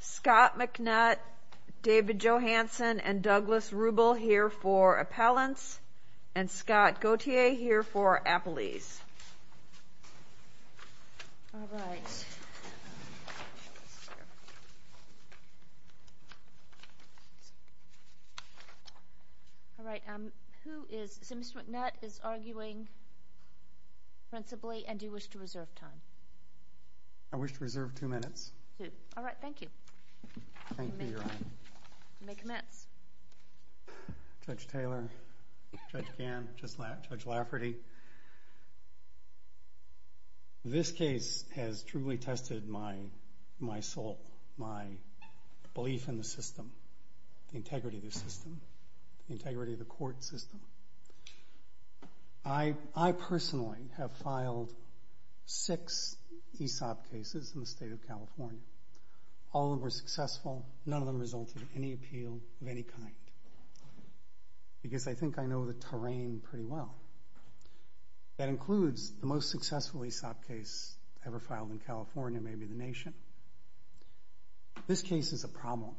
Scott McNutt, David Johanson, and Douglas Rubel here for Appellants, and Scott Gauthier here for Appellees. All right. So Mr. McNutt is arguing principally, and do you wish to reserve time? I wish to reserve two minutes. All right. Thank you. Thank you, Your Honor. You may commence. Judge Taylor, Judge Gannon, Judge Lafferty. This case has truly tested my soul, my belief in the system, the integrity of the system, the integrity of the court system. I personally have filed six ESOP cases in the state of California. All of them were successful. None of them resulted in any appeal of any kind, because I think I know the terrain pretty well. That includes the most successful ESOP case ever filed in California, maybe the nation. This case is a problem.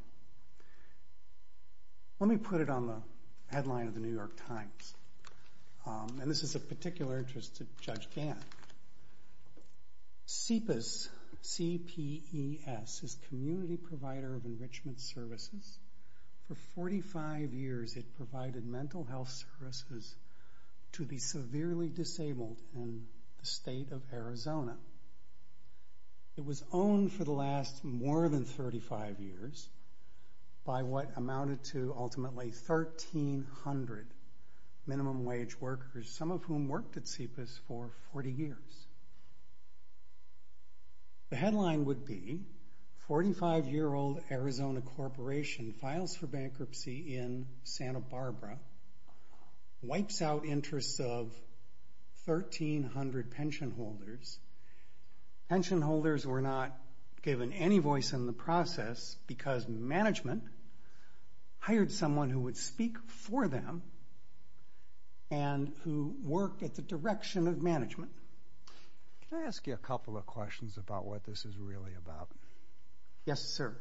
Let me put it on the headline of the New York Times, and this is of particular interest to Judge Gannon. CPES, C-P-E-S, is Community Provider of Enrichment Services. For 45 years, it provided mental health services to the severely disabled in the state of Arizona. It was owned for the last more than 35 years by what amounted to ultimately 1,300 minimum wage workers, some of whom worked at CPES for 40 years. The headline would be, 45-year-old Arizona Corporation Files for Bankruptcy in Santa Barbara, Wipes Out Interests of 1,300 Pension Holders. Pension holders were not given any voice in the process, because management hired someone who would speak for them and who worked at the direction of management. Can I ask you a couple of questions about what this is really about? Yes, sir.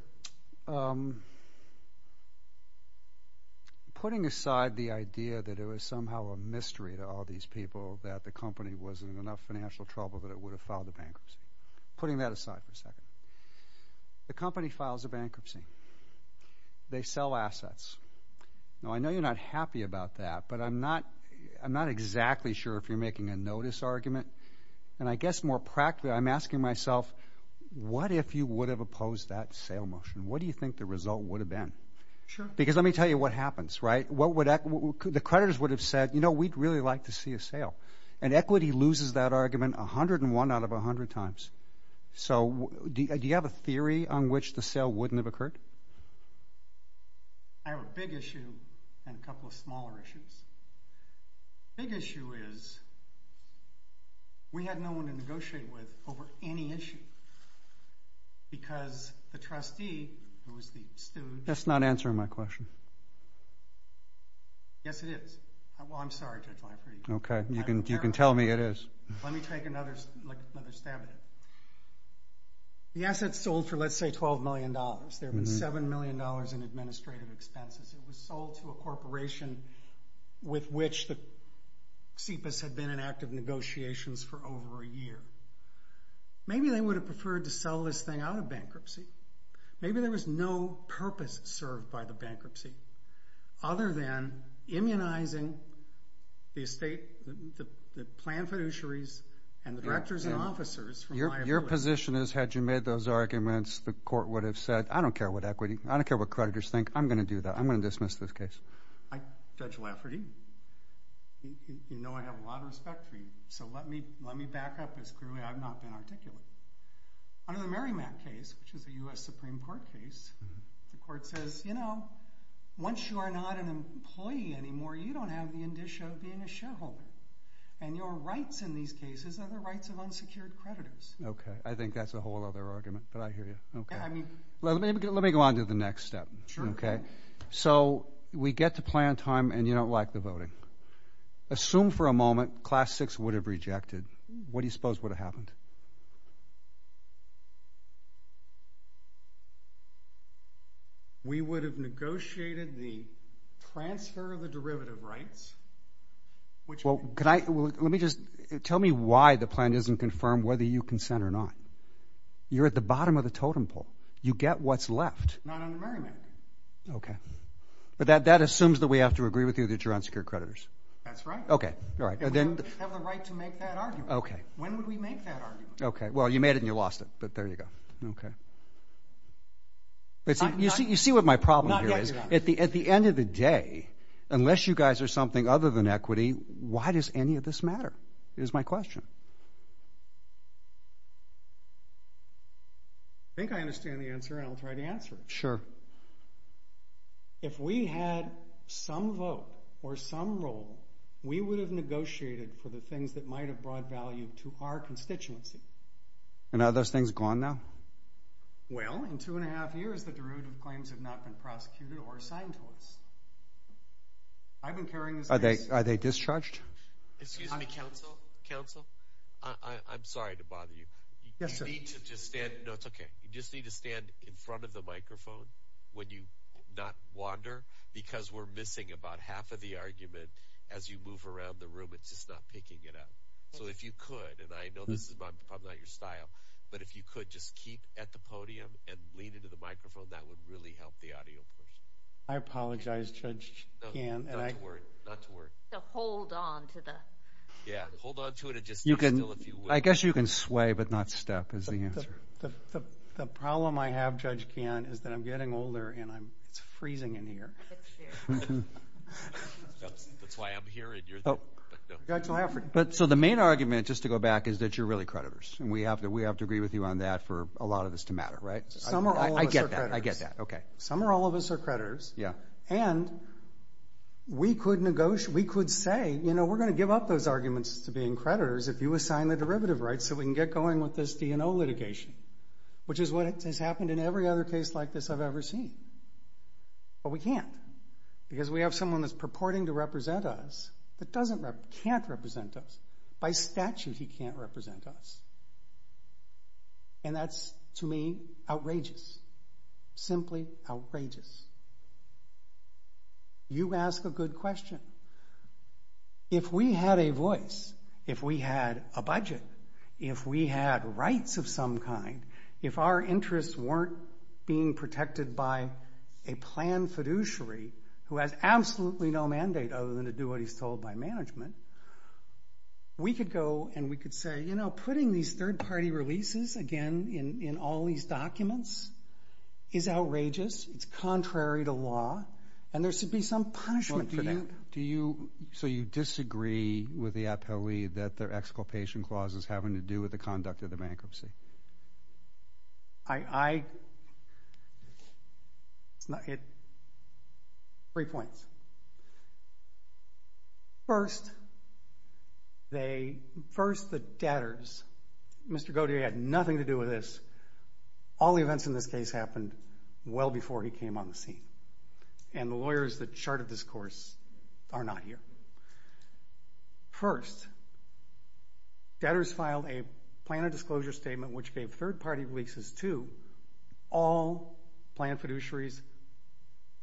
Putting aside the idea that it was somehow a mystery to all these people that the company was in enough financial trouble that it would have filed a bankruptcy, putting that aside for a second, the company files a bankruptcy. They sell assets. Now, I know you're not happy about that, but I'm not exactly sure if you're making a notice argument. And I guess more practically, I'm asking myself, what if you would have opposed that sale motion? What do you think the result would have been? Sure. Because let me tell you what happens, right? The creditors would have said, you know, we'd really like to see a sale. And equity loses that argument 101 out of 100 times. So do you have a theory on which the sale wouldn't have occurred? I have a big issue and a couple of smaller issues. The big issue is we had no one to negotiate with over any issue. Because the trustee, who was the steward. That's not answering my question. Yes, it is. Well, I'm sorry, Judge Lankford. OK. You can tell me it is. Let me take another stab at it. The assets sold for, let's say, $12 million. There have been $7 million in administrative expenses. It was sold to a corporation with which CIPAS had been in active negotiations for over a year. Maybe they would have preferred to sell this thing out of bankruptcy. Maybe there was no purpose served by the bankruptcy other than immunizing the estate, the planned fiduciaries, and the directors and officers from liability. Your position is, had you made those arguments, the court would have said, I don't care what equity, I don't care what creditors think, I'm going to do that, I'm going to dismiss this case. Judge Lafferty, you know I have a lot of respect for you. So let me back up as clearly I've not been articulate. Under the Merrimack case, which is a U.S. Supreme Court case, the court says, you know, once you are not an employee anymore, you don't have the indicia of being a shareholder. And your rights in these cases are the rights of unsecured creditors. Okay. I think that's a whole other argument, but I hear you. Let me go on to the next step. So we get to plan time and you don't like the voting. Assume for a moment Class VI would have rejected. What do you suppose would have happened? We would have negotiated the transfer of the derivative rights. Well, can I, let me just, tell me why the plan doesn't confirm whether you consent or not. You're at the bottom of the totem pole. You get what's left. Not under Merrimack. Okay. But that assumes that we have to agree with you that you're unsecured creditors. That's right. Okay. All right. And we don't have the right to make that argument. Okay. When would we make that argument? Okay. Well, you made it and you lost it, but there you go. Okay. You see what my problem here is? Not yet, Your Honor. At the end of the day, unless you guys are something other than equity, why does any of this matter is my question. I think I understand the answer and I'll try to answer it. Sure. If we had some vote or some role, we would have negotiated for the things that might have brought value to our constituency. And are those things gone now? Well, in two and a half years, the derivative claims have not been prosecuted or assigned to us. I've been carrying this case. Are they discharged? Excuse me, counsel. Counsel, I'm sorry to bother you. Yes, sir. You need to just stand, no, it's okay. You just need to stand in front of the microphone when you not wander because we're missing about half of the argument. As you move around the room, it's just not picking it up. So if you could, and I know this is probably not your style, but if you could just keep at the podium and lean into the microphone, that would really help the audio. I apologize, Judge Kahn. Not to worry. So hold on to the – Yeah, hold on to it and just – I guess you can sway but not step is the answer. The problem I have, Judge Kahn, is that I'm getting older and it's freezing in here. It's true. That's why I'm here and you're there. But so the main argument, just to go back, is that you're really creditors, and we have to agree with you on that for a lot of this to matter, right? Some or all of us are creditors. I get that. I get that. Okay. Some or all of us are creditors. Yeah. And we could say, you know, we're going to give up those arguments to being creditors if you assign the derivative rights so we can get going with this D&O litigation, which is what has happened in every other case like this I've ever seen. But we can't because we have someone that's purporting to represent us that can't represent us. By statute, he can't represent us. And that's, to me, outrageous, simply outrageous. You ask a good question. If we had a voice, if we had a budget, if we had rights of some kind, if our interests weren't being protected by a planned fiduciary who has absolutely no mandate other than to do what he's told by management, we could go and we could say, you know, putting these third-party releases, again, in all these documents is outrageous. It's contrary to law. And there should be some punishment for that. So you disagree with the APOE that their exculpation clause is having to do with the conduct of the bankruptcy? Three points. First, the debtors, Mr. Godier had nothing to do with this. All the events in this case happened well before he came on the scene. And the lawyers that charted this course are not here. First, debtors filed a plan of disclosure statement which gave third-party releases to all planned fiduciaries,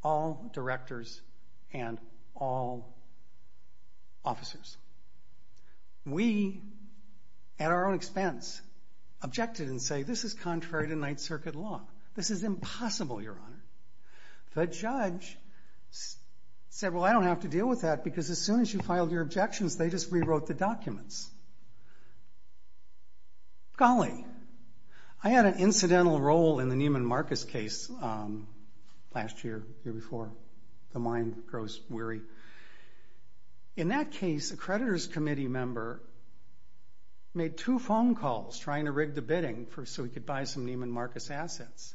all directors, and all officers. We, at our own expense, objected and said, this is contrary to Ninth Circuit law. This is impossible, Your Honor. The judge said, well, I don't have to deal with that because as soon as you filed your objections, they just rewrote the documents. Golly. I had an incidental role in the Neiman Marcus case last year, the year before. The mind grows weary. In that case, a creditors committee member made two phone calls trying to rig the bidding so he could buy some Neiman Marcus assets.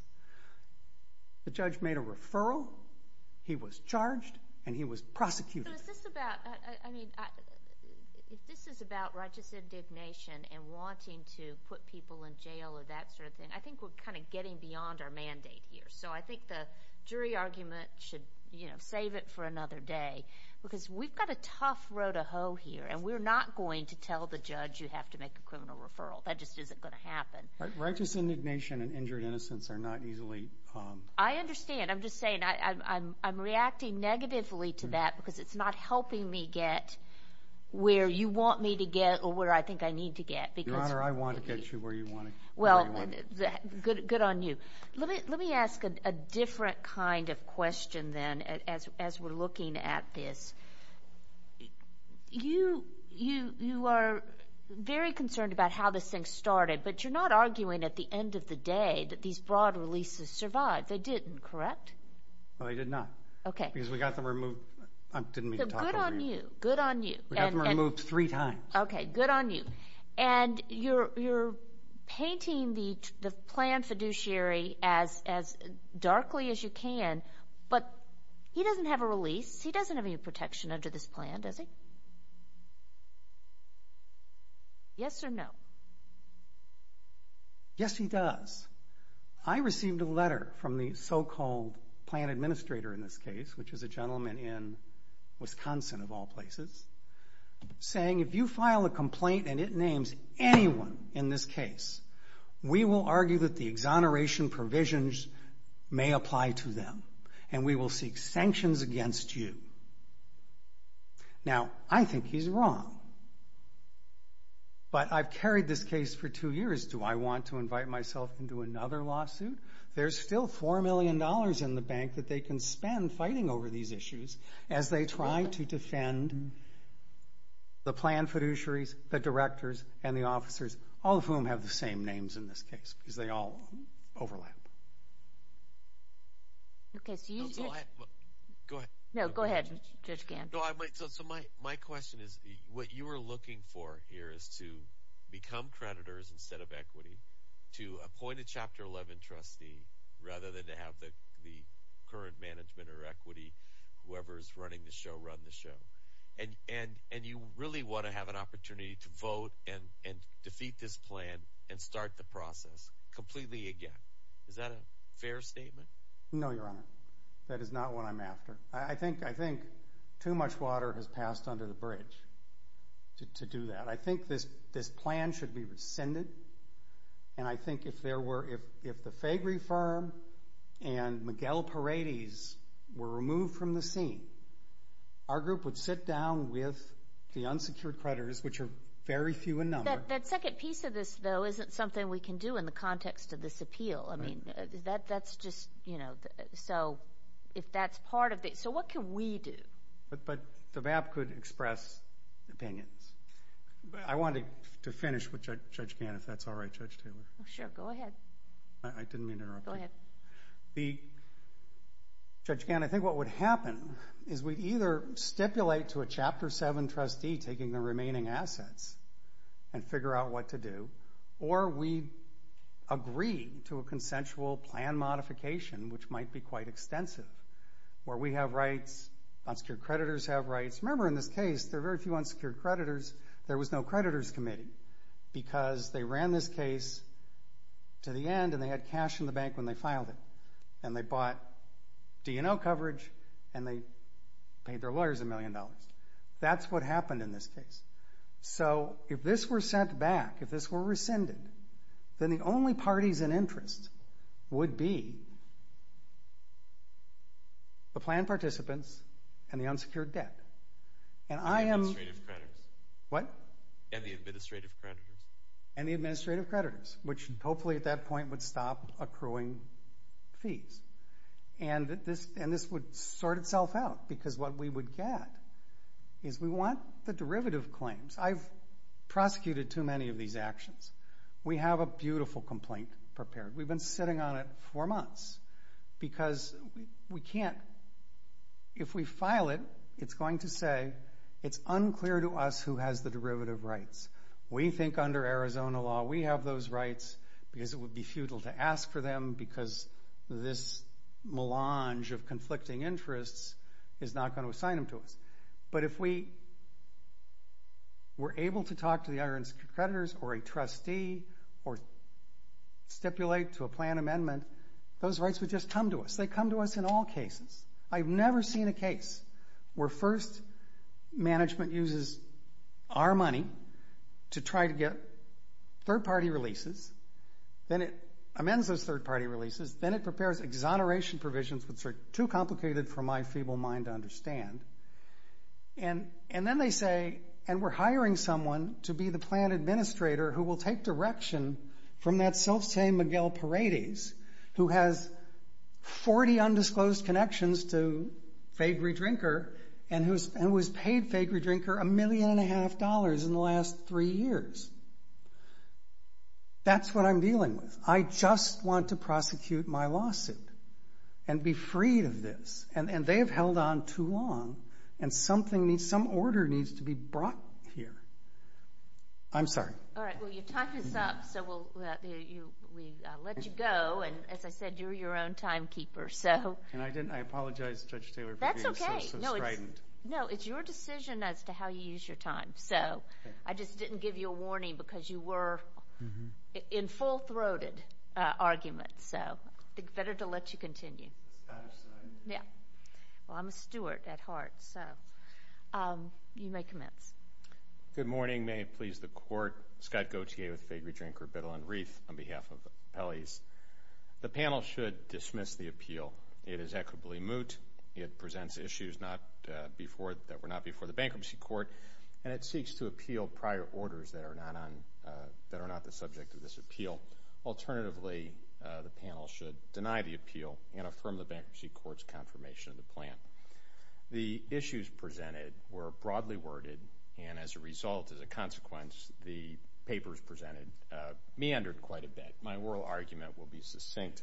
The judge made a referral, he was charged, and he was prosecuted. So is this about, I mean, if this is about righteous indignation and wanting to put people in jail or that sort of thing, I think we're kind of getting beyond our mandate here. So I think the jury argument should, you know, save it for another day because we've got a tough road to hoe here, and we're not going to tell the judge you have to make a criminal referral. That just isn't going to happen. Righteous indignation and injured innocence are not easily— I understand. I'm just saying I'm reacting negatively to that because it's not helping me get where you want me to get or where I think I need to get because— Your Honor, I want to get you where you want to get. Well, good on you. Let me ask a different kind of question then as we're looking at this. You are very concerned about how this thing started, but you're not arguing at the end of the day that these broad releases survived. They didn't, correct? No, they did not. Okay. Because we got them removed—I didn't mean to talk over you. So good on you. Good on you. We got them removed three times. Okay. Good on you. And you're painting the plan fiduciary as darkly as you can, but he doesn't have a release. He doesn't have any protection under this plan, does he? Yes or no? Yes, he does. I received a letter from the so-called plan administrator in this case, which is a gentleman in Wisconsin of all places, saying if you file a complaint and it names anyone in this case, we will argue that the exoneration provisions may apply to them, and we will seek sanctions against you. Now, I think he's wrong, but I've carried this case for two years. Do I want to invite myself into another lawsuit? There's still $4 million in the bank that they can spend fighting over these issues as they try to defend the plan fiduciaries, the directors, and the officers, all of whom have the same names in this case because they all overlap. Okay. Go ahead. No, go ahead, Judge Gant. So my question is what you are looking for here is to become creditors instead of equity, to appoint a Chapter 11 trustee rather than to have the current management or equity, whoever is running the show, run the show. And you really want to have an opportunity to vote and defeat this plan and start the process completely again. Is that a fair statement? No, Your Honor. That is not what I'm after. I think too much water has passed under the bridge to do that. I think this plan should be rescinded, and I think if the Fagree firm and Miguel Paredes were removed from the scene, our group would sit down with the unsecured creditors, which are very few in number. That second piece of this, though, isn't something we can do in the context of this appeal. I mean, that's just, you know, so if that's part of it, so what can we do? But the VAP could express opinions. I wanted to finish with Judge Gant, if that's all right, Judge Taylor. Sure. Go ahead. I didn't mean to interrupt you. Go ahead. Judge Gant, I think what would happen is we'd either stipulate to a Chapter 7 trustee taking the remaining assets and figure out what to do, or we'd agree to a consensual plan modification, which might be quite extensive, where we have rights, unsecured creditors have rights. Remember, in this case, there are very few unsecured creditors. There was no creditors committee because they ran this case to the end and they had cash in the bank when they filed it, and they bought D&O coverage and they paid their lawyers a million dollars. That's what happened in this case. So if this were sent back, if this were rescinded, then the only parties in interest would be the planned participants and the unsecured debt. And I am. Administrative creditors. What? And the administrative creditors. And the administrative creditors, which hopefully at that point would stop accruing fees. And this would sort itself out because what we would get is we want the derivative claims. I've prosecuted too many of these actions. We have a beautiful complaint prepared. We've been sitting on it for months because we can't. If we file it, it's going to say it's unclear to us who has the derivative rights. We think under Arizona law we have those rights because it would be futile to ask for them because this melange of conflicting interests is not going to assign them to us. But if we were able to talk to the unsecured creditors or a trustee or stipulate to a planned amendment, those rights would just come to us. They come to us in all cases. I've never seen a case where first management uses our money to try to get third-party releases. Then it amends those third-party releases. Then it prepares exoneration provisions, which are too complicated for my feeble mind to understand. And then they say, and we're hiring someone to be the planned administrator who will take direction from that self-same Miguel Paredes who has 40 undisclosed connections to Fagery Drinker and who has paid Fagery Drinker a million and a half dollars in the last three years. That's what I'm dealing with. I just want to prosecute my lawsuit and be freed of this. And they have held on too long, and some order needs to be brought here. I'm sorry. All right. Well, you've talked us up, so we'll let you go. And as I said, you're your own timekeeper. And I apologize to Judge Taylor for being so slow. No, it's your decision as to how you use your time. So I just didn't give you a warning because you were in full-throated arguments. So I think it's better to let you continue. Well, I'm a steward at heart, so you may commence. Good morning. May it please the Court. Scott Gauthier with Fagery Drinker, Biddle, and Reith on behalf of the appellees. The panel should dismiss the appeal. It is equitably moot. It presents issues that were not before the bankruptcy court, and it seeks to appeal prior orders that are not the subject of this appeal. Alternatively, the panel should deny the appeal and affirm the bankruptcy court's confirmation of the plan. The issues presented were broadly worded, and as a result, as a consequence, the papers presented meandered quite a bit. My oral argument will be succinct.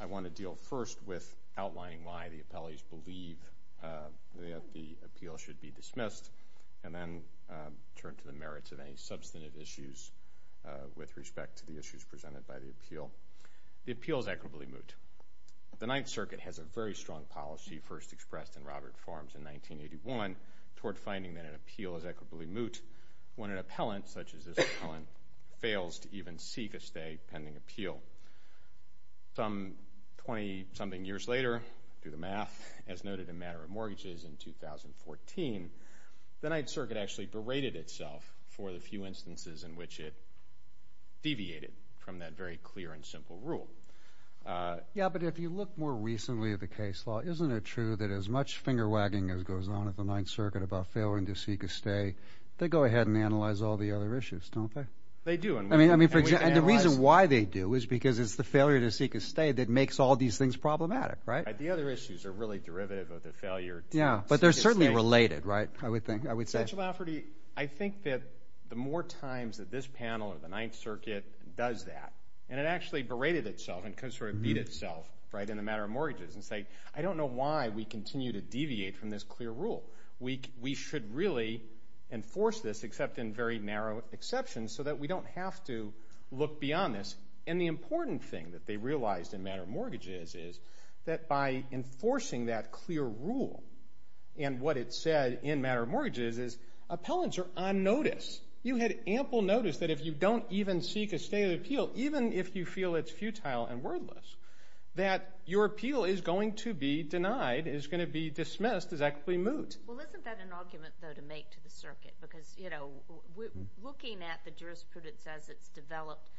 I want to deal first with outlining why the appellees believe that the appeal should be dismissed and then turn to the merits of any substantive issues with respect to the issues presented by the appeal. The appeal is equitably moot. The Ninth Circuit has a very strong policy, first expressed in Robert Farms in 1981, toward finding that an appeal is equitably moot when an appellant, such as this appellant, fails to even seek a stay pending appeal. Some 20-something years later, through the math, as noted in Matter of Mortgages in 2014, the Ninth Circuit actually berated itself for the few instances in which it deviated from that very clear and simple rule. Yeah, but if you look more recently at the case law, isn't it true that as much finger-wagging as goes on at the Ninth Circuit about failing to seek a stay, they go ahead and analyze all the other issues, don't they? They do. I mean, for example, the reason why they do is because it's the failure to seek a stay that makes all these things problematic, right? The other issues are really derivative of the failure to seek a stay. Yeah, but they're certainly related, right, I would say. Judge Lafferty, I think that the more times that this panel or the Ninth Circuit does that and it actually berated itself and could sort of beat itself in the Matter of Mortgages and say, I don't know why we continue to deviate from this clear rule. We should really enforce this except in very narrow exceptions so that we don't have to look beyond this. And the important thing that they realized in Matter of Mortgages is that by enforcing that clear rule and what it said in Matter of Mortgages is appellants are on notice. You had ample notice that if you don't even seek a stay of the appeal, even if you feel it's futile and wordless, that your appeal is going to be denied, is going to be dismissed as actually moot. Well, isn't that an argument, though, to make to the circuit? Because, you know, looking at the jurisprudence as it's developed,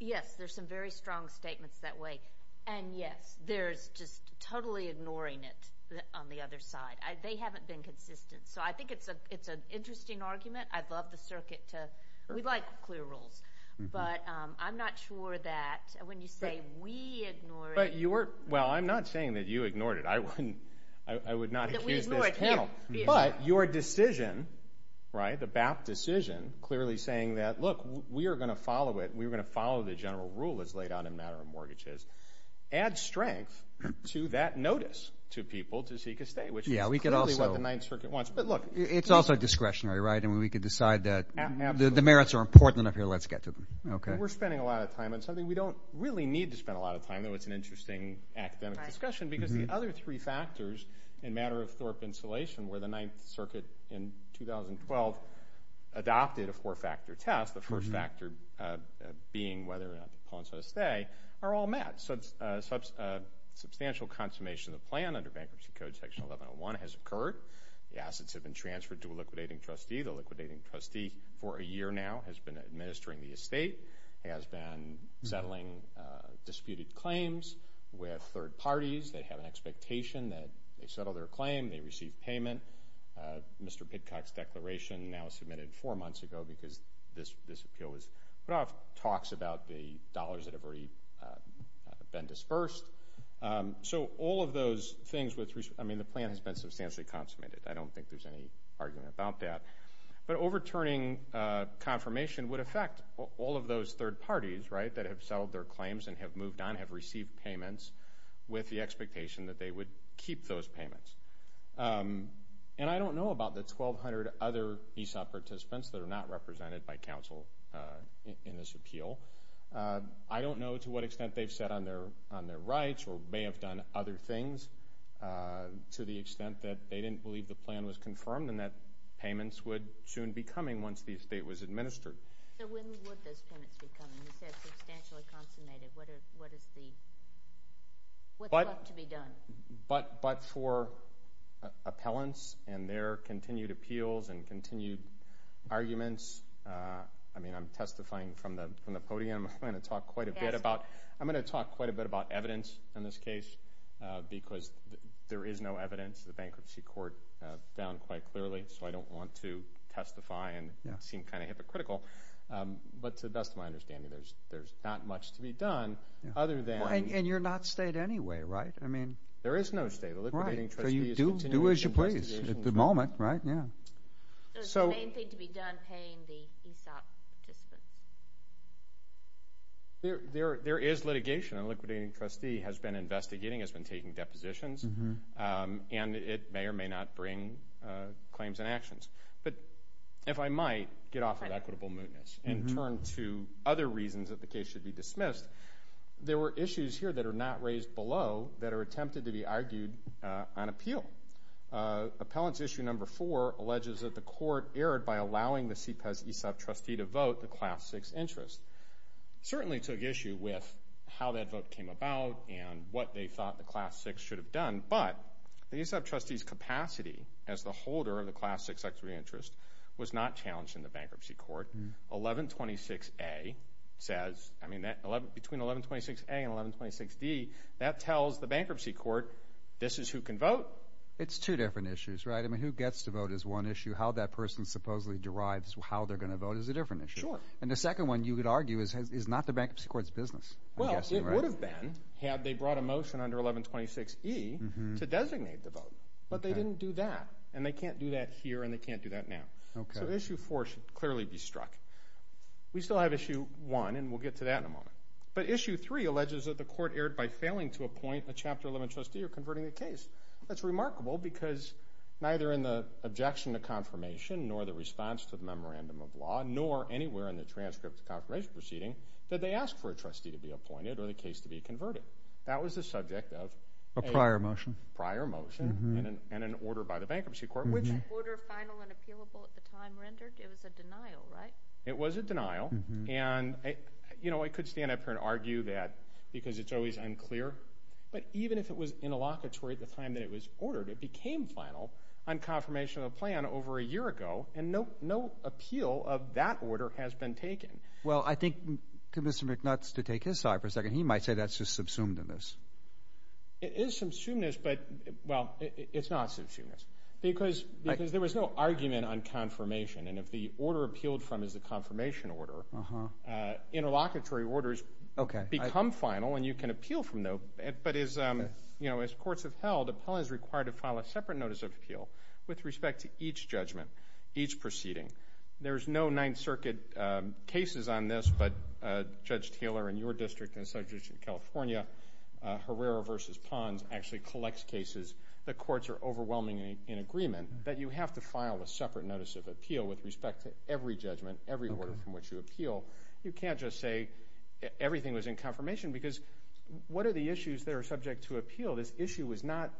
yes, there's some very strong statements that way. And, yes, there's just totally ignoring it on the other side. They haven't been consistent. So I think it's an interesting argument. I'd love the circuit to – we like clear rules. But I'm not sure that when you say we ignore it – Well, I'm not saying that you ignored it. I would not accuse this panel. But your decision, right, the BAP decision, clearly saying that, look, we are going to follow it, we are going to follow the general rule as laid out in Matter of Mortgages, adds strength to that notice to people to seek a stay, which is clearly what the Ninth Circuit wants. But, look, it's also discretionary, right? And we could decide that the merits are important enough here. Let's get to them. We're spending a lot of time on something we don't really need to spend a lot of time on. Even though it's an interesting academic discussion. Because the other three factors in Matter of Thorpe Insolation, where the Ninth Circuit in 2012 adopted a four-factor test, the first factor being whether or not to call in for a stay, are all met. Substantial consummation of the plan under Bankruptcy Code Section 1101 has occurred. The assets have been transferred to a liquidating trustee. The liquidating trustee for a year now has been administering the estate, has been settling disputed claims with third parties. They have an expectation that they settle their claim, they receive payment. Mr. Pidcock's declaration now submitted four months ago because this appeal was put off, talks about the dollars that have already been disbursed. So all of those things, I mean, the plan has been substantially consummated. I don't think there's any argument about that. But overturning confirmation would affect all of those third parties, right, that have settled their claims and have moved on, have received payments, with the expectation that they would keep those payments. And I don't know about the 1,200 other ESOP participants that are not represented by counsel in this appeal. I don't know to what extent they've said on their rights or may have done other things to the extent that they didn't believe the plan was confirmed and that payments would soon be coming once the estate was administered. So when would those payments be coming? You said substantially consummated. What's left to be done? But for appellants and their continued appeals and continued arguments, I mean, I'm testifying from the podium. I'm going to talk quite a bit about evidence in this case because there is no evidence. The bankruptcy court found quite clearly. So I don't want to testify and seem kind of hypocritical. But to the best of my understanding, there's not much to be done other than ‑‑ And you're not state anyway, right? There is no state. The liquidating trustee is continuing to investigate. Do as you please at the moment, right? The main thing to be done, paying the ESOP participants. There is litigation. A liquidating trustee has been investigating, has been taking depositions. And it may or may not bring claims and actions. But if I might get off of equitable mootness and turn to other reasons that the case should be dismissed, there were issues here that are not raised below that are attempted to be argued on appeal. Appellants issue number four alleges that the court erred by allowing the CPES ESOP trustee to vote the class 6 interest. Certainly took issue with how that vote came about and what they thought the class 6 should have done. But the ESOP trustee's capacity as the holder of the class 6 equity interest was not challenged in the bankruptcy court. 1126A says ‑‑ I mean, between 1126A and 1126D, that tells the bankruptcy court this is who can vote. It's two different issues, right? I mean, who gets to vote is one issue. How that person supposedly derives how they're going to vote is a different issue. And the second one, you could argue, is not the bankruptcy court's business. Well, it would have been had they brought a motion under 1126E to designate the vote. But they didn't do that, and they can't do that here and they can't do that now. So issue four should clearly be struck. We still have issue one, and we'll get to that in a moment. But issue three alleges that the court erred by failing to appoint a Chapter 11 trustee or converting a case. That's remarkable because neither in the objection to confirmation nor the response to the memorandum of law nor anywhere in the transcript of the confirmation proceeding did they ask for a trustee to be appointed or the case to be converted. That was the subject of a prior motion and an order by the bankruptcy court. Was that order final and appealable at the time rendered? It was a denial, right? It was a denial. And, you know, I could stand up here and argue that because it's always unclear. But even if it was interlocutory at the time that it was ordered, it became final on confirmation of the plan over a year ago, and no appeal of that order has been taken. Well, I think Commissioner McNutt is to take his side for a second. He might say that's just subsumed in this. It is subsumed in this, but, well, it's not subsumed in this because there was no argument on confirmation, and if the order appealed from is a confirmation order, interlocutory orders become final and you can appeal from them. But, you know, as courts have held, appeal is required to file a separate notice of appeal with respect to each judgment, each proceeding. There's no Ninth Circuit cases on this, but Judge Taylor in your district and the Secretary of California, Herrera v. Pons, actually collects cases. The courts are overwhelmingly in agreement that you have to file a separate notice of appeal with respect to every judgment, every order from which you appeal. You can't just say everything was in confirmation because what are the issues that are subject to appeal? This issue was not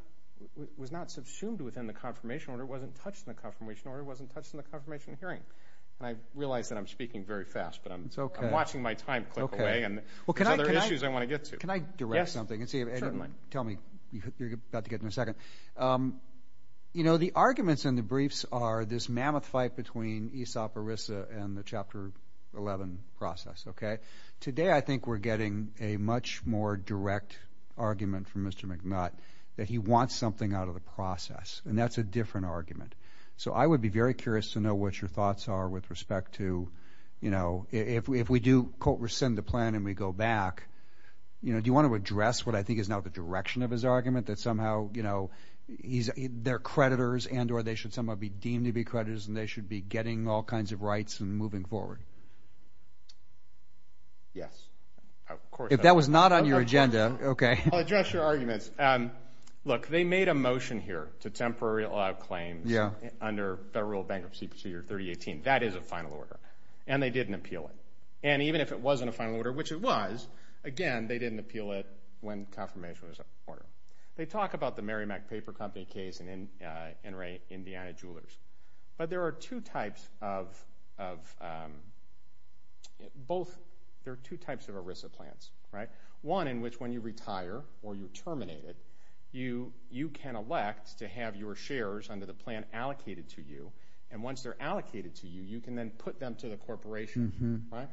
subsumed within the confirmation order. It wasn't touched in the confirmation order. It wasn't touched in the confirmation hearing, and I realize that I'm speaking very fast, but I'm watching my time click away, and there's other issues I want to get to. Can I direct something? Yes, certainly. Tell me. You're about to get in a second. You know, the arguments in the briefs are this mammoth fight between ESOP, ERISA, and the Chapter 11 process. Today I think we're getting a much more direct argument from Mr. McNutt that he wants something out of the process, and that's a different argument. So I would be very curious to know what your thoughts are with respect to, you know, if we do, quote, rescind the plan and we go back, do you want to address what I think is now the direction of his argument, that somehow, you know, they're creditors and or they should somehow be deemed to be creditors and they should be getting all kinds of rights and moving forward? Yes, of course. I'll address your arguments. Look, they made a motion here to temporarily allow claims under Federal Bankruptcy Procedure 3018. That is a final order, and they didn't appeal it. And even if it wasn't a final order, which it was, again, they didn't appeal it when confirmation was ordered. They talk about the Merrimack Paper Company case and Indiana Jewelers, but there are two types of ERISA plans, right? You can elect to have your shares under the plan allocated to you, and once they're allocated to you, you can then put them to the corporation, right?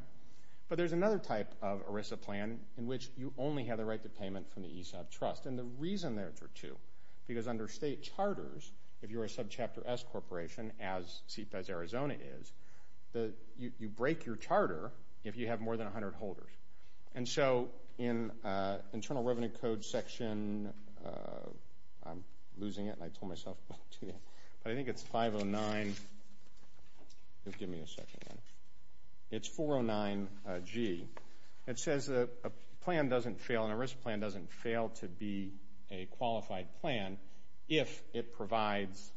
But there's another type of ERISA plan in which you only have the right to payment from the ESOP Trust. And the reason there is for two, because under state charters, if you're a subchapter S corporation, as CPEZ Arizona is, you break your charter if you have more than 100 holders. And so in Internal Revenue Code section, I'm losing it, and I told myself to go to it, but I think it's 509. Give me a second. It's 409G. It says a plan doesn't fail, and an ERISA plan doesn't fail to be a qualified plan if it provides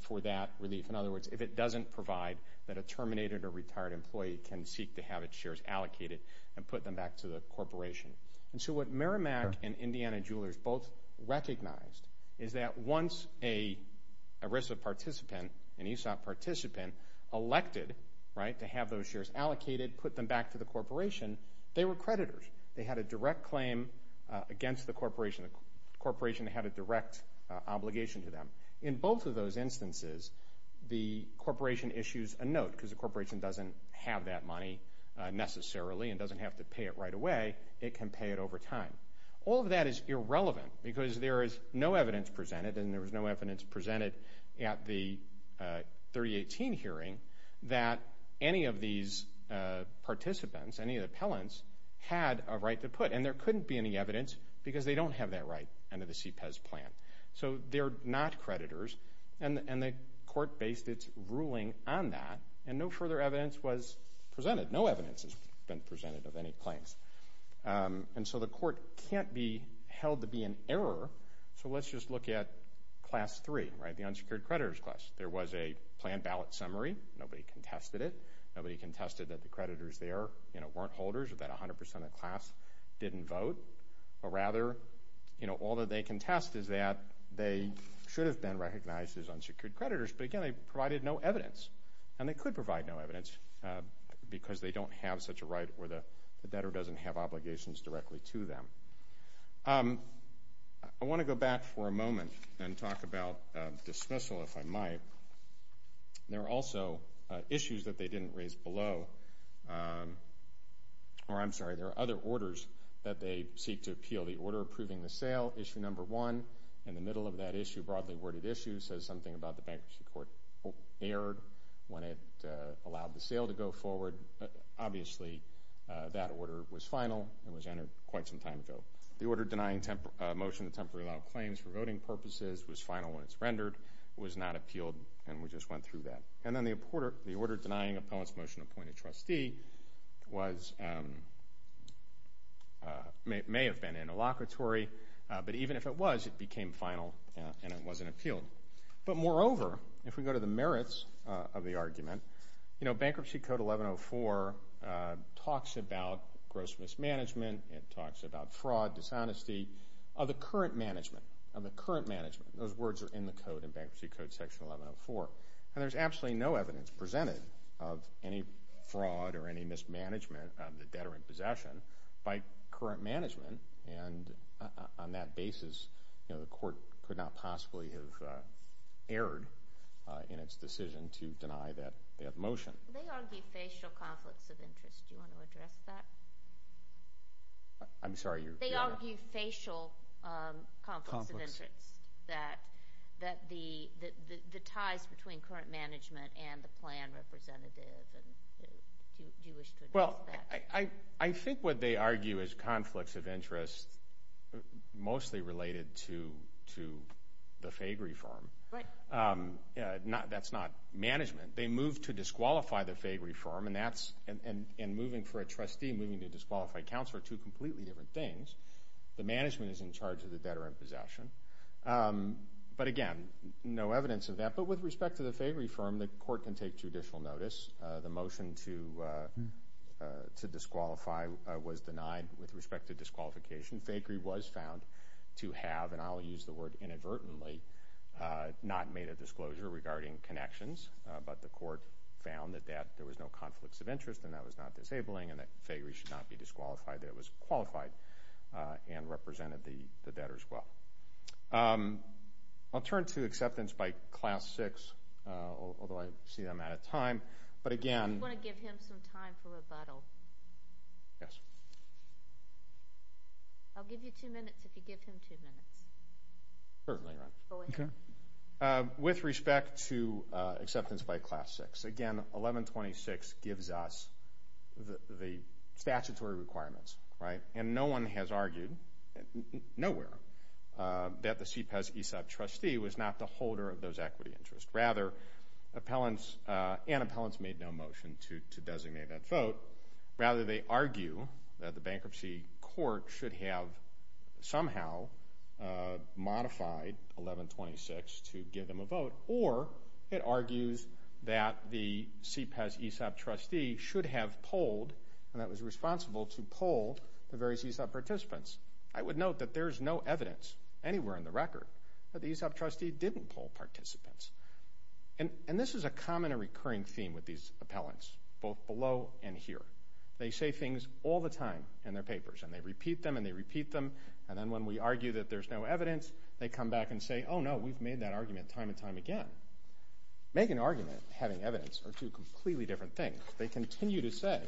for that relief. In other words, if it doesn't provide that a terminated or retired employee can seek to have its shares allocated and put them back to the corporation. And so what Merrimack and Indiana Jewelers both recognized is that once an ERISA participant, an ESOP participant, elected to have those shares allocated, put them back to the corporation, they were creditors. They had a direct claim against the corporation. The corporation had a direct obligation to them. In both of those instances, the corporation issues a note because the corporation doesn't have that money necessarily and doesn't have to pay it right away. It can pay it over time. All of that is irrelevant because there is no evidence presented, and there was no evidence presented at the 3018 hearing that any of these participants, any of the appellants, had a right to put. And there couldn't be any evidence because they don't have that right under the CPEZ plan. So they're not creditors, and the court based its ruling on that, and no further evidence was presented. No evidence has been presented of any claims. And so the court can't be held to be in error. So let's just look at Class 3, the unsecured creditors class. There was a planned ballot summary. Nobody contested it. Nobody contested that the creditors there weren't holders, that 100% of the class didn't vote. But rather, all that they contest is that they should have been recognized as unsecured creditors. But again, they provided no evidence, and they could provide no evidence because they don't have such a right or the debtor doesn't have obligations directly to them. I want to go back for a moment and talk about dismissal, if I might. There are also issues that they didn't raise below. Or I'm sorry, there are other orders that they seek to appeal. So the order approving the sale, Issue No. 1, in the middle of that issue, broadly worded issue, says something about the bankruptcy court erred when it allowed the sale to go forward. Obviously, that order was final and was entered quite some time ago. The order denying motion to temporarily allow claims for voting purposes was final when it was rendered. It was not appealed, and we just went through that. And then the order denying appellant's motion to appoint a trustee may have been interlocutory, but even if it was, it became final and it wasn't appealed. But moreover, if we go to the merits of the argument, Bankruptcy Code 1104 talks about gross mismanagement. It talks about fraud, dishonesty. Of the current management, those words are in the code, in Bankruptcy Code Section 1104. And there's absolutely no evidence presented of any fraud or any mismanagement of the debtor in possession by current management. And on that basis, the court could not possibly have erred in its decision to deny that motion. They argue facial conflicts of interest. Do you want to address that? I'm sorry, your— They argue facial conflicts of interest, that the ties between current management and the plan representative, do you wish to address that? Well, I think what they argue is conflicts of interest mostly related to the FAAG reform. Right. That's not management. They moved to disqualify the FAAG reform, and moving for a trustee and moving to disqualify a counselor are two completely different things. The management is in charge of the debtor in possession. But again, no evidence of that. But with respect to the FAAG reform, the court can take judicial notice. The motion to disqualify was denied with respect to disqualification. FAAG was found to have, and I'll use the word inadvertently, not made a disclosure regarding connections. But the court found that there was no conflicts of interest and that was not disabling and that FAAG should not be disqualified, that it was qualified and represented the debtor as well. I'll turn to acceptance by Class VI, although I see I'm out of time. But again— I just want to give him some time for rebuttal. Yes. I'll give you two minutes if you give him two minutes. Certainly. Go ahead. Okay. With respect to acceptance by Class VI, again, 1126 gives us the statutory requirements, right? And no one has argued, nowhere, that the CPES ESOP trustee was not the holder of those equity interests. Rather, appellants and appellants made no motion to designate that vote. Rather, they argue that the bankruptcy court should have somehow modified 1126 to give them a vote. Or it argues that the CPES ESOP trustee should have polled and that was responsible to poll the various ESOP participants. I would note that there is no evidence anywhere in the record that the ESOP trustee didn't poll participants. And this is a common and recurring theme with these appellants, both below and here. They say things all the time in their papers, and they repeat them and they repeat them. And then when we argue that there's no evidence, they come back and say, oh, no, we've made that argument time and time again. Making an argument and having evidence are two completely different things. They continue to say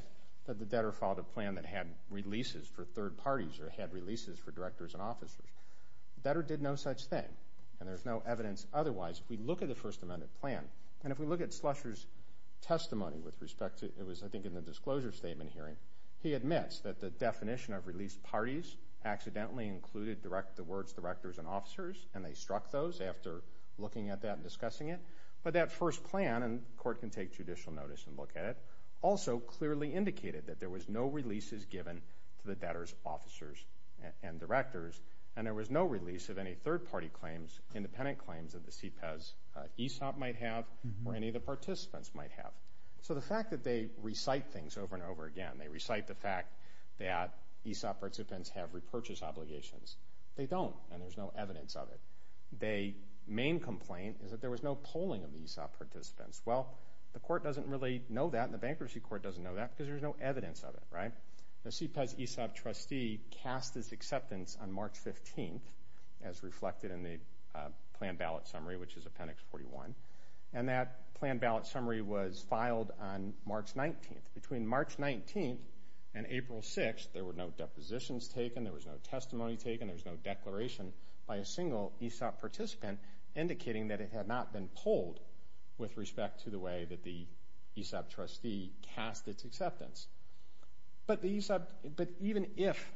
that the debtor filed a plan that had releases for third parties or had releases for directors and officers. The debtor did no such thing, and there's no evidence otherwise. If we look at the First Amendment plan, and if we look at Slusher's testimony with respect to, it was, I think, in the disclosure statement hearing, he admits that the definition of released parties accidentally included the words directors and officers, and they struck those after looking at that and discussing it. But that first plan, and the Court can take judicial notice and look at it, also clearly indicated that there was no releases given to the debtors, officers, and directors, and there was no release of any third-party claims, independent claims that the CPEZ ESOP might have or any of the participants might have. So the fact that they recite things over and over again, they recite the fact that ESOP participants have repurchase obligations, they don't, and there's no evidence of it. The main complaint is that there was no polling of the ESOP participants. Well, the Court doesn't really know that, and the Bankruptcy Court doesn't know that, because there's no evidence of it, right? The CPEZ ESOP trustee cast his acceptance on March 15th, as reflected in the planned ballot summary, which is Appendix 41, and that planned ballot summary was filed on March 19th. Between March 19th and April 6th, there were no depositions taken, there was no testimony taken, there was no declaration by a single ESOP participant indicating that it had not been polled with respect to the way that the ESOP trustee cast its acceptance. But even if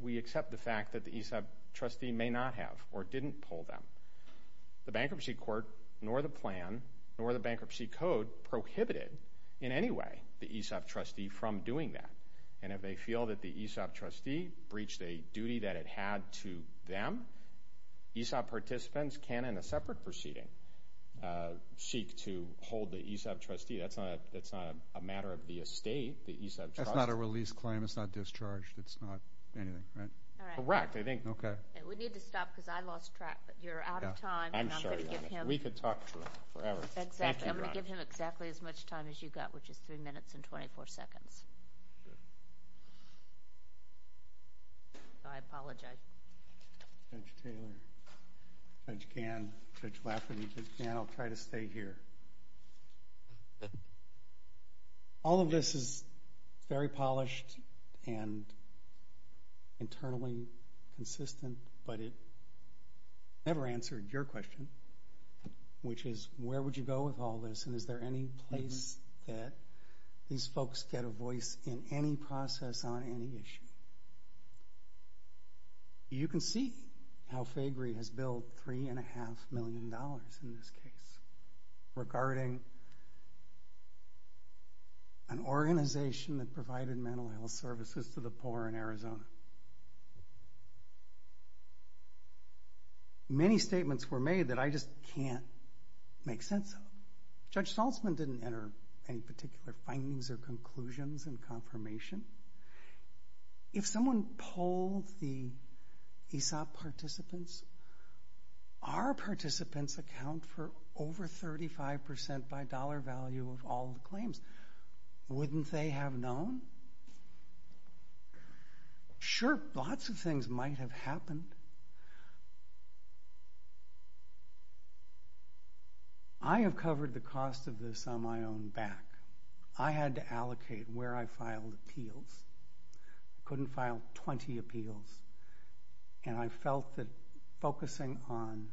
we accept the fact that the ESOP trustee may not have or didn't poll them, the Bankruptcy Court, nor the plan, nor the Bankruptcy Code prohibited in any way the ESOP trustee from doing that. And if they feel that the ESOP trustee breached a duty that it had to them, ESOP participants can, in a separate proceeding, seek to hold the ESOP trustee. That's not a matter of the estate, the ESOP trustee. That's not a release claim, it's not discharged, it's not anything, right? Correct. We need to stop because I lost track, but you're out of time. I'm sorry. We could talk forever. I'm going to give him exactly as much time as you got, which is 3 minutes and 24 seconds. I apologize. Judge Taylor, Judge Gann, Judge Lafferty, Judge Gann, I'll try to stay here. All of this is very polished and internally consistent, but it never answered your question, which is where would you go with all this and is there any place that these folks get a voice in any process on any issue? You can see how FAGRI has billed $3.5 million in this case regarding an organization that provided mental health services to the poor in Arizona. Many statements were made that I just can't make sense of. Judge Saltzman didn't enter any particular findings or conclusions and confirmation. If someone polled the ESOP participants, our participants account for over 35% by dollar value of all the claims. Wouldn't they have known? Sure, lots of things might have happened. I have covered the cost of this on my own back. I had to allocate where I filed appeals. I couldn't file 20 appeals, and I felt that focusing on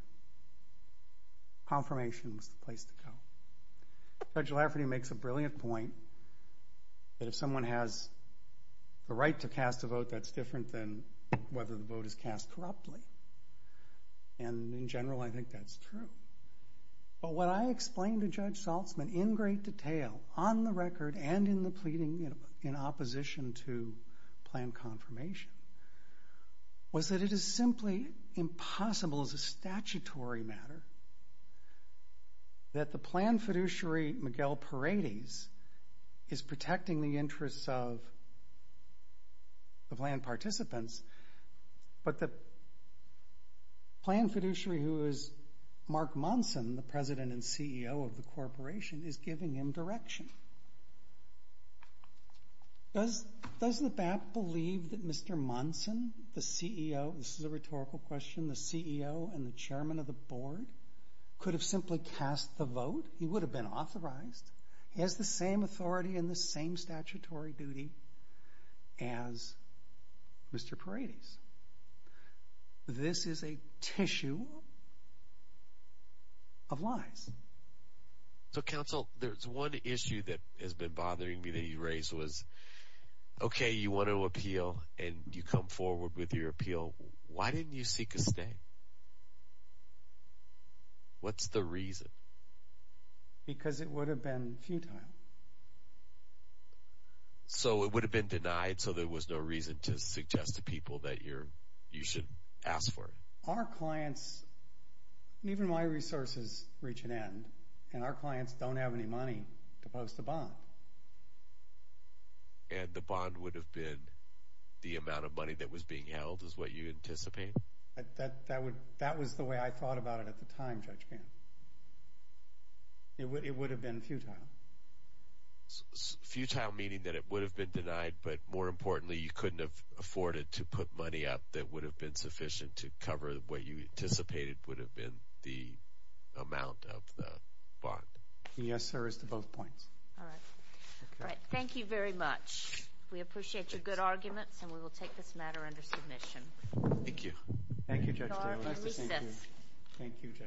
confirmation was the place to go. Judge Lafferty makes a brilliant point that if someone has the right to cast a vote, that's different than whether the vote is cast corruptly, and in general I think that's true. But what I explained to Judge Saltzman in great detail on the record and in the pleading in opposition to plan confirmation was that it is simply impossible as a statutory matter that the plan fiduciary, Miguel Paredes, is protecting the interests of land participants, but the plan fiduciary who is Mark Monson, the president and CEO of the corporation, is giving him direction. Does the BAP believe that Mr. Monson, the CEO, this is a rhetorical question, the CEO and the chairman of the board, could have simply cast the vote? He would have been authorized. He has the same authority and the same statutory duty as Mr. Paredes. This is a tissue of lies. So, counsel, there's one issue that has been bothering me that you raised was, okay, you want to appeal and you come forward with your appeal. Why didn't you seek a stay? What's the reason? Because it would have been futile. So it would have been denied so there was no reason to suggest to people that you should ask for it? Our clients, even my resources reach an end, and our clients don't have any money to post a bond. And the bond would have been the amount of money that was being held is what you anticipate? That was the way I thought about it at the time, Judge Gant. It would have been futile. Futile meaning that it would have been denied, but more importantly you couldn't have afforded to put money up that would have been sufficient to cover what you anticipated would have been the amount of the bond. Yes, sir, it's to both points. All right. All right, thank you very much. We appreciate your good arguments, and we will take this matter under submission. Thank you. Thank you, Judge Taylor.